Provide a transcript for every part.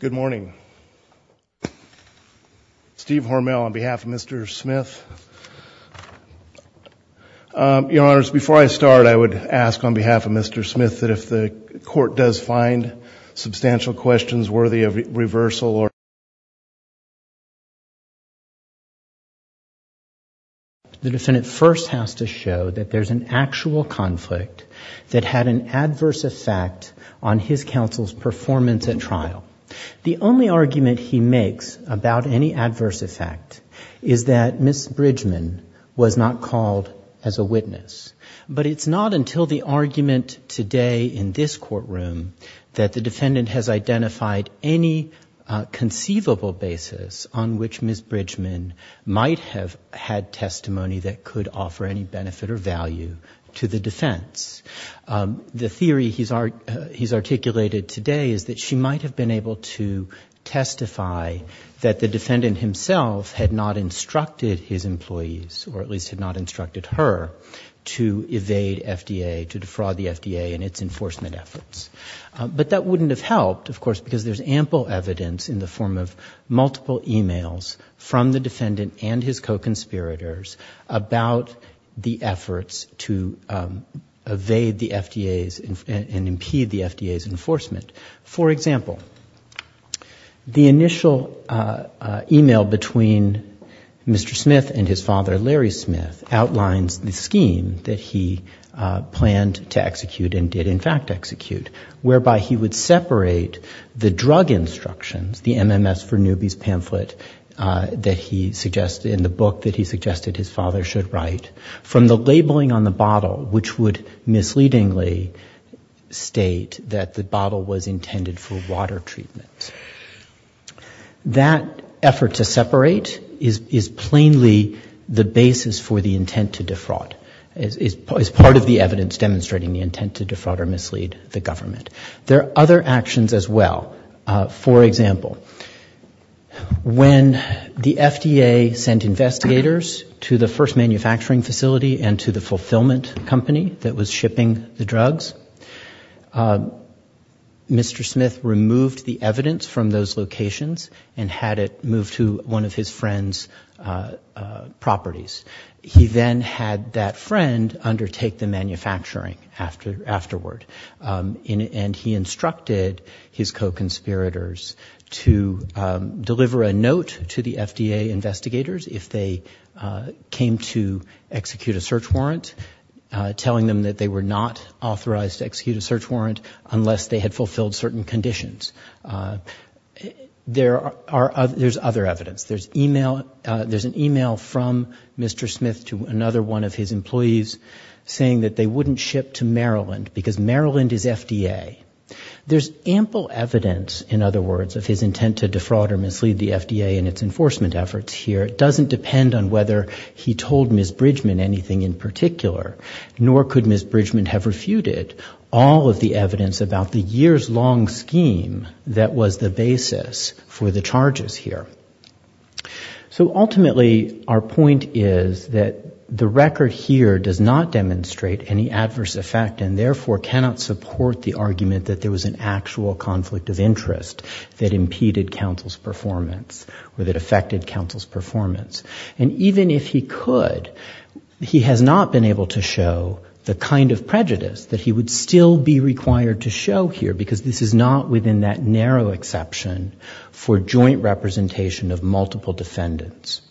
Good morning. Steve Hormel on behalf of Mr. Smith. Your Honor, before I start I would ask on behalf of Mr. Smith that if the court does find substantial questions worthy of reversal or The defendant first has to show that there is an actual conflict that had an adverse effect on his counsel's performance at trial. The only argument he makes about any adverse effect is that Ms. Bridgman was not called as a witness. But it's not until the argument today in this courtroom that the defendant has identified any conceivable basis on which Ms. Bridgman might have had testimony that could offer any benefit or value to the defense. The theory he's articulated today is that she might have been able to testify that the defendant himself had not instructed his employees, or at least had not instructed her, to evade FDA, to defraud the FDA in its enforcement efforts. But that wouldn't have helped, of course, because there's ample evidence in the form of multiple e-mails from the defendant and his co-conspirators about the efforts to evade the FDA and impede the FDA's enforcement. For example, the initial e-mail between Mr. Smith and his father, Larry Smith, outlines the scheme that he planned to execute and did in fact execute, whereby he would separate the drug instructions, the MMS for newbies pamphlet in the book that he suggested his father should write, from the labeling on the bottle, which would misleadingly state that the bottle was intended for water treatment. That effort to separate is plainly the basis for the intent to defraud, as part of the evidence demonstrating the intent to defraud or mislead the government. There are other actions as well. For example, when the FDA sent investigators to the first manufacturing facility and to the fulfillment company that was shipping the drugs, Mr. Smith removed the evidence from those locations and had it moved to one of his friend's properties. He then had that friend undertake the manufacturing afterward. And he instructed his co-conspirators to deliver a note to the FDA investigators if they came to execute a search warrant, telling them that they were not authorized to execute a search warrant unless they had fulfilled certain conditions. There's other evidence. There's an email from Mr. Smith to another one of his employees saying that they wouldn't ship to Maryland because Maryland is FDA. There's ample evidence, in other words, of his intent to defraud or mislead the FDA in its enforcement efforts here. It doesn't depend on whether he told Ms. Bridgman anything in particular, nor could Ms. Bridgman have refuted all of the evidence about the years-long scheme that was the basis for the scheme. So ultimately, our point is that the record here does not demonstrate any adverse effect and therefore cannot support the argument that there was an actual conflict of interest that impeded counsel's performance or that affected counsel's performance. And even if he could, he has not been able to show the kind of prejudice that he would still be required to show here because this is not within that narrow exception for joint representation of multiple defendants.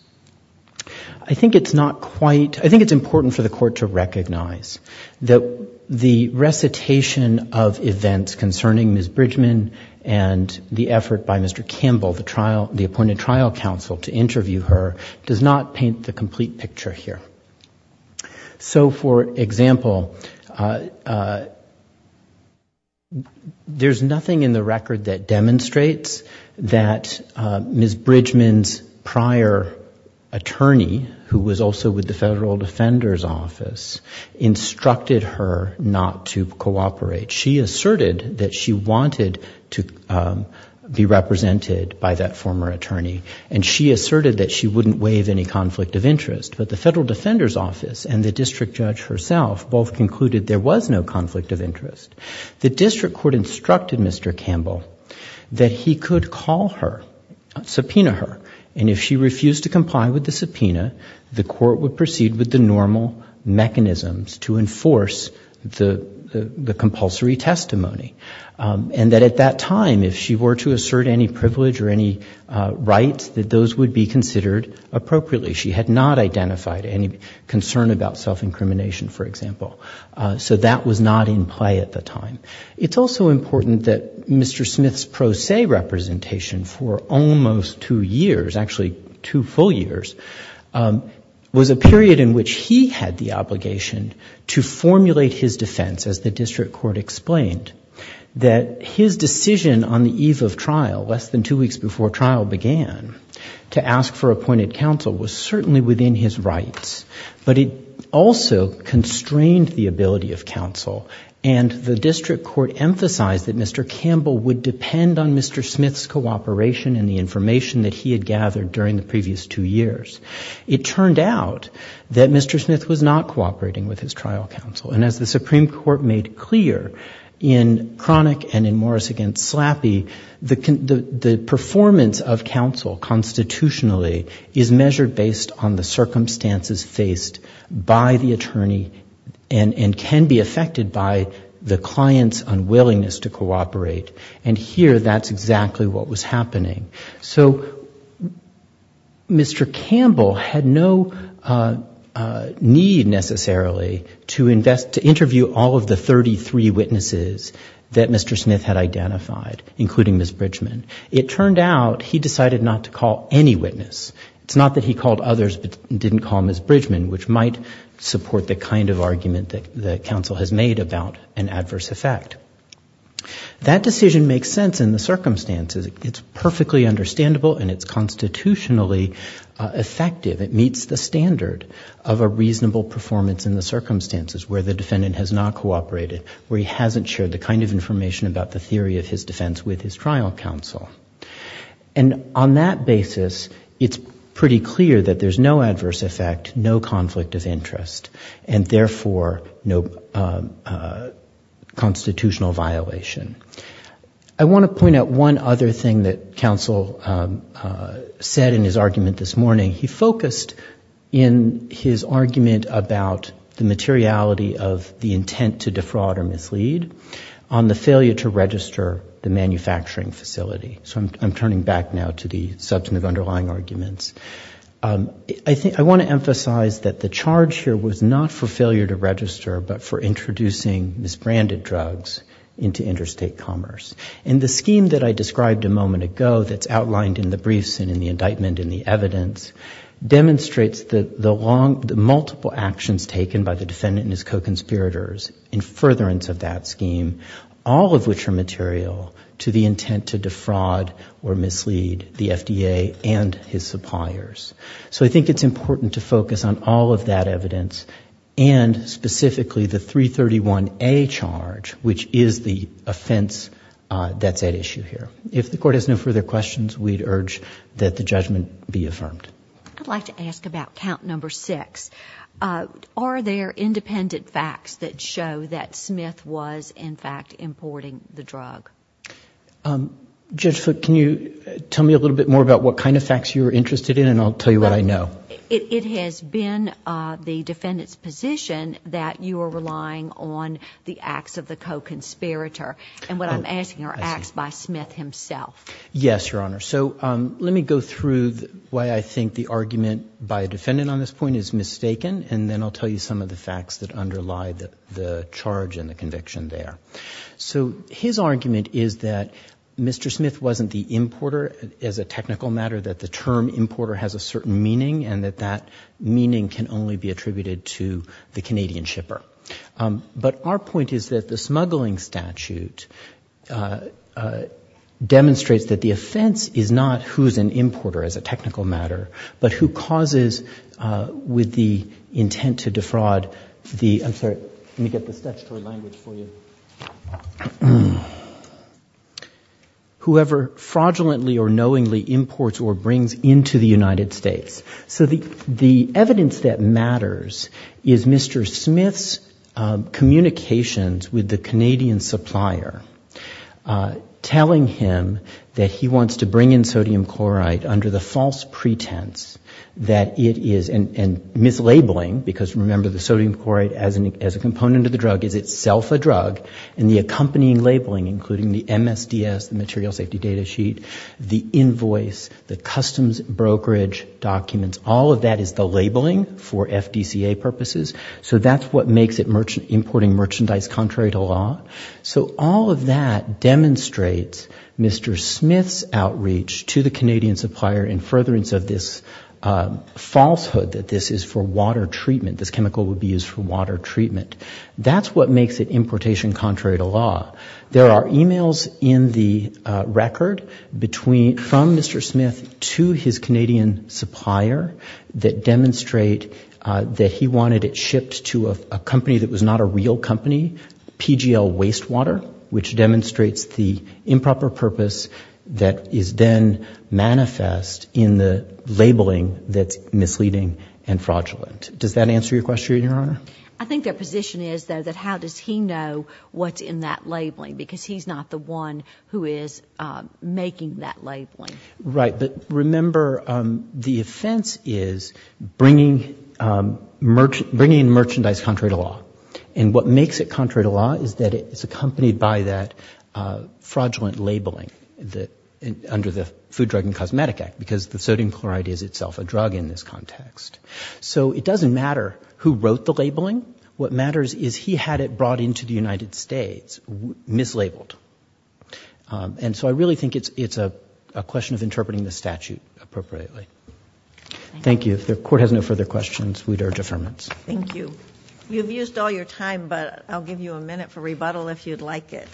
I think it's not quite, I think it's important for the court to recognize that the recitation of events concerning Ms. Bridgman and the effort by Mr. Campbell, the trial, the appointed trial counsel, to interview her does not paint the complete picture here. So for example, there's nothing in the record that demonstrates that Ms. Bridgman's prior attorney who was also with the Federal Defender's Office instructed her not to cooperate. She asserted that she wanted to be represented by that former attorney and she asserted that she wouldn't waive any conflict of interest. But the Federal Defender's Office and the district judge herself both concluded there was no conflict of interest. The district court instructed Mr. Campbell that he could call her, subpoena her, and if she refused to comply with the subpoena, the court would proceed with the normal mechanisms to enforce the compulsory testimony. And that at that time, if she were to assert any privilege or any rights, that those would be considered appropriately. She had not identified any concern about self-incrimination, for example. So that was not in play at the time. It's also important that Mr. Smith's pro se representation for almost two years, actually two full years, was a period in which he had the obligation to formulate his defense, as the district court explained, that his decision on the eve of trial, less than two weeks before the trial began, to ask for appointed counsel was certainly within his rights. But it also constrained the ability of counsel. And the district court emphasized that Mr. Campbell would depend on Mr. Smith's cooperation and the information that he had gathered during the previous two years. It turned out that Mr. Smith was not cooperating with his trial counsel. And as the Supreme Court made clear in Cronick and in Morris v. Slappy, the performance of counsel constitutionally is measured based on the circumstances faced by the attorney and can be affected by the client's unwillingness to cooperate. And here, that's exactly what was happening. So, Mr. Campbell had no need, necessarily, to invest, to interview all of the 33 witnesses that Mr. Smith had identified, including Ms. Bridgman. It turned out he decided not to call any witness. It's not that he called others, but didn't call Ms. Bridgman, which might support the kind of argument that counsel has made about an adverse effect. That decision makes sense in the circumstances. It's perfectly understandable and it's constitutionally effective. It meets the standard of a reasonable performance in the circumstances where the defendant has not cooperated, where he hasn't shared the kind of information about the theory of his defense with his trial counsel. And on that basis, it's pretty clear that there's no adverse effect, no conflict of interest, and therefore, no constitutional violation. I want to point out one other thing that counsel said in his argument this morning. He focused in his argument about the materiality of the intent to defraud or mislead on the failure to register the manufacturing facility. So I'm turning back now to the substantive underlying arguments. I want to emphasize that the charge here was not for failure to register, but for introducing misbranded drugs into interstate commerce. And the scheme that I described a moment ago that's outlined in the briefs and in the indictment and the evidence demonstrates the multiple actions taken by the defendant and his co-conspirators in furtherance of that scheme, all of which are material to the intent to defraud or mislead the FDA and his suppliers. So I think it's important to focus on all of that evidence and specifically the 331A charge, which is the offense that's at issue here. If the Court has no further questions, we'd urge that the judgment be affirmed. I'd like to ask about count number six. Are there independent facts that show that Smith was, in fact, importing the drug? Judge Foote, can you tell me a little bit more about what kind of facts you're interested in? And I'll tell you what I know. It has been the defendant's position that you are relying on the acts of the co-conspirator. And what I'm asking are acts by Smith himself. Yes, Your Honor. So let me go through why I think the argument by a defendant on this point is mistaken, and then I'll tell you some of the facts that underlie the charge and the conviction there. So his argument is that Mr. Smith wasn't the importer. As a technical matter, that the term importer has a certain meaning and that that meaning can only be attributed to the Canadian shipper. But our point is that the smuggling statute demonstrates that the offense is not who's an importer as a technical matter, but who causes with the intent to defraud the—I'm sorry, let me get the statutory language for you. Whoever fraudulently or knowingly imports or brings into the United States. So the evidence that matters is Mr. Smith's communications with the Canadian supplier telling him that he wants to bring in sodium chloride under the false pretense that it is—and mislabeling, because remember the sodium chloride as a component of the drug is itself a drug, and the accompanying labeling, including the MSDS, the material safety data sheet, the invoice, the customs brokerage documents, all of that is the labeling for FDCA purposes. So that's what makes it importing merchandise contrary to law. So all of that demonstrates Mr. Smith's outreach to the Canadian supplier in furtherance of this falsehood that this is for water treatment, this chemical would be used for water treatment. That's what makes it importation contrary to law. There are emails in the record between—from Mr. Smith to his Canadian supplier that demonstrate that he wanted it shipped to a company that was not a real company, PGL Wastewater, which demonstrates the improper purpose that is then manifest in the labeling that's misleading and fraudulent. Does that answer your question, Your Honor? I think their position is, though, that how does he know what's in that labeling? Because he's not the one who is making that labeling. Right. But remember, the offense is bringing merchandise contrary to law, and what makes it contrary to law is that it's accompanied by that fraudulent labeling under the Food, Drug, and Cosmetic Act, because the sodium chloride is itself a drug in this context. So it doesn't matter who wrote the labeling. What matters is he had it brought into the United States, mislabeled. And so I really think it's a question of interpreting the statute appropriately. Thank you. If the Court has no further questions, we'd urge affirmance. Thank you. You've used all your time, but I'll give you a minute for rebuttal if you'd like it.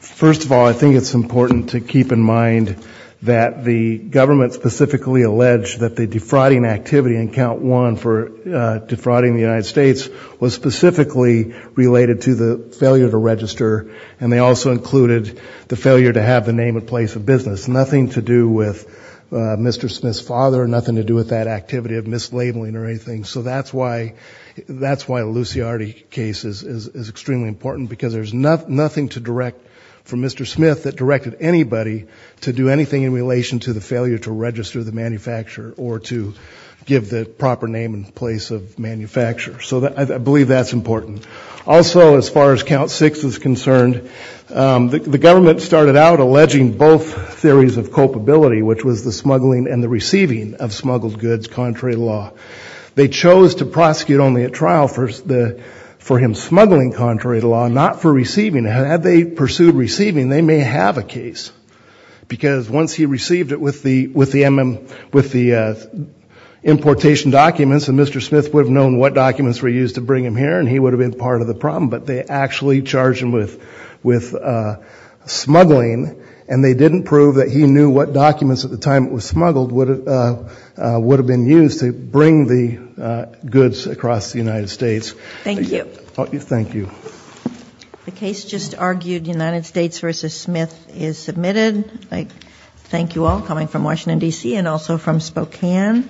First of all, I think it's important to keep in mind that the government specifically alleged that the defrauding activity in Count 1 for defrauding the United States was specifically related to the failure to register, and they also included the failure to have the name and place of business. Nothing to do with Mr. Smith's father, nothing to do with that activity of mislabeling or anything. So that's why the Luciardi case is extremely important, because there's nothing to direct from Mr. Smith that directed anybody to do anything in relation to the failure to register the manufacturer or to give the proper name and place of manufacturer. So I believe that's important. Also, as far as Count 6 is concerned, the government started out alleging both theories of culpability, which was the smuggling and the receiving of smuggled goods contrary to law. They chose to prosecute only at trial for him smuggling contrary to law, not for receiving. Had they pursued receiving, they may have a case. Because once he received it with the importation documents, Mr. Smith would have known what documents were used to bring him here, and he would have been part of the problem. But they actually charged him with smuggling, and they didn't prove that he knew what documents at the time it was smuggled would have been used to bring the goods across the United States. Thank you. Thank you. The case just argued, United States v. Smith, is submitted. Thank you all, coming from Washington, D.C., and also from Spokane.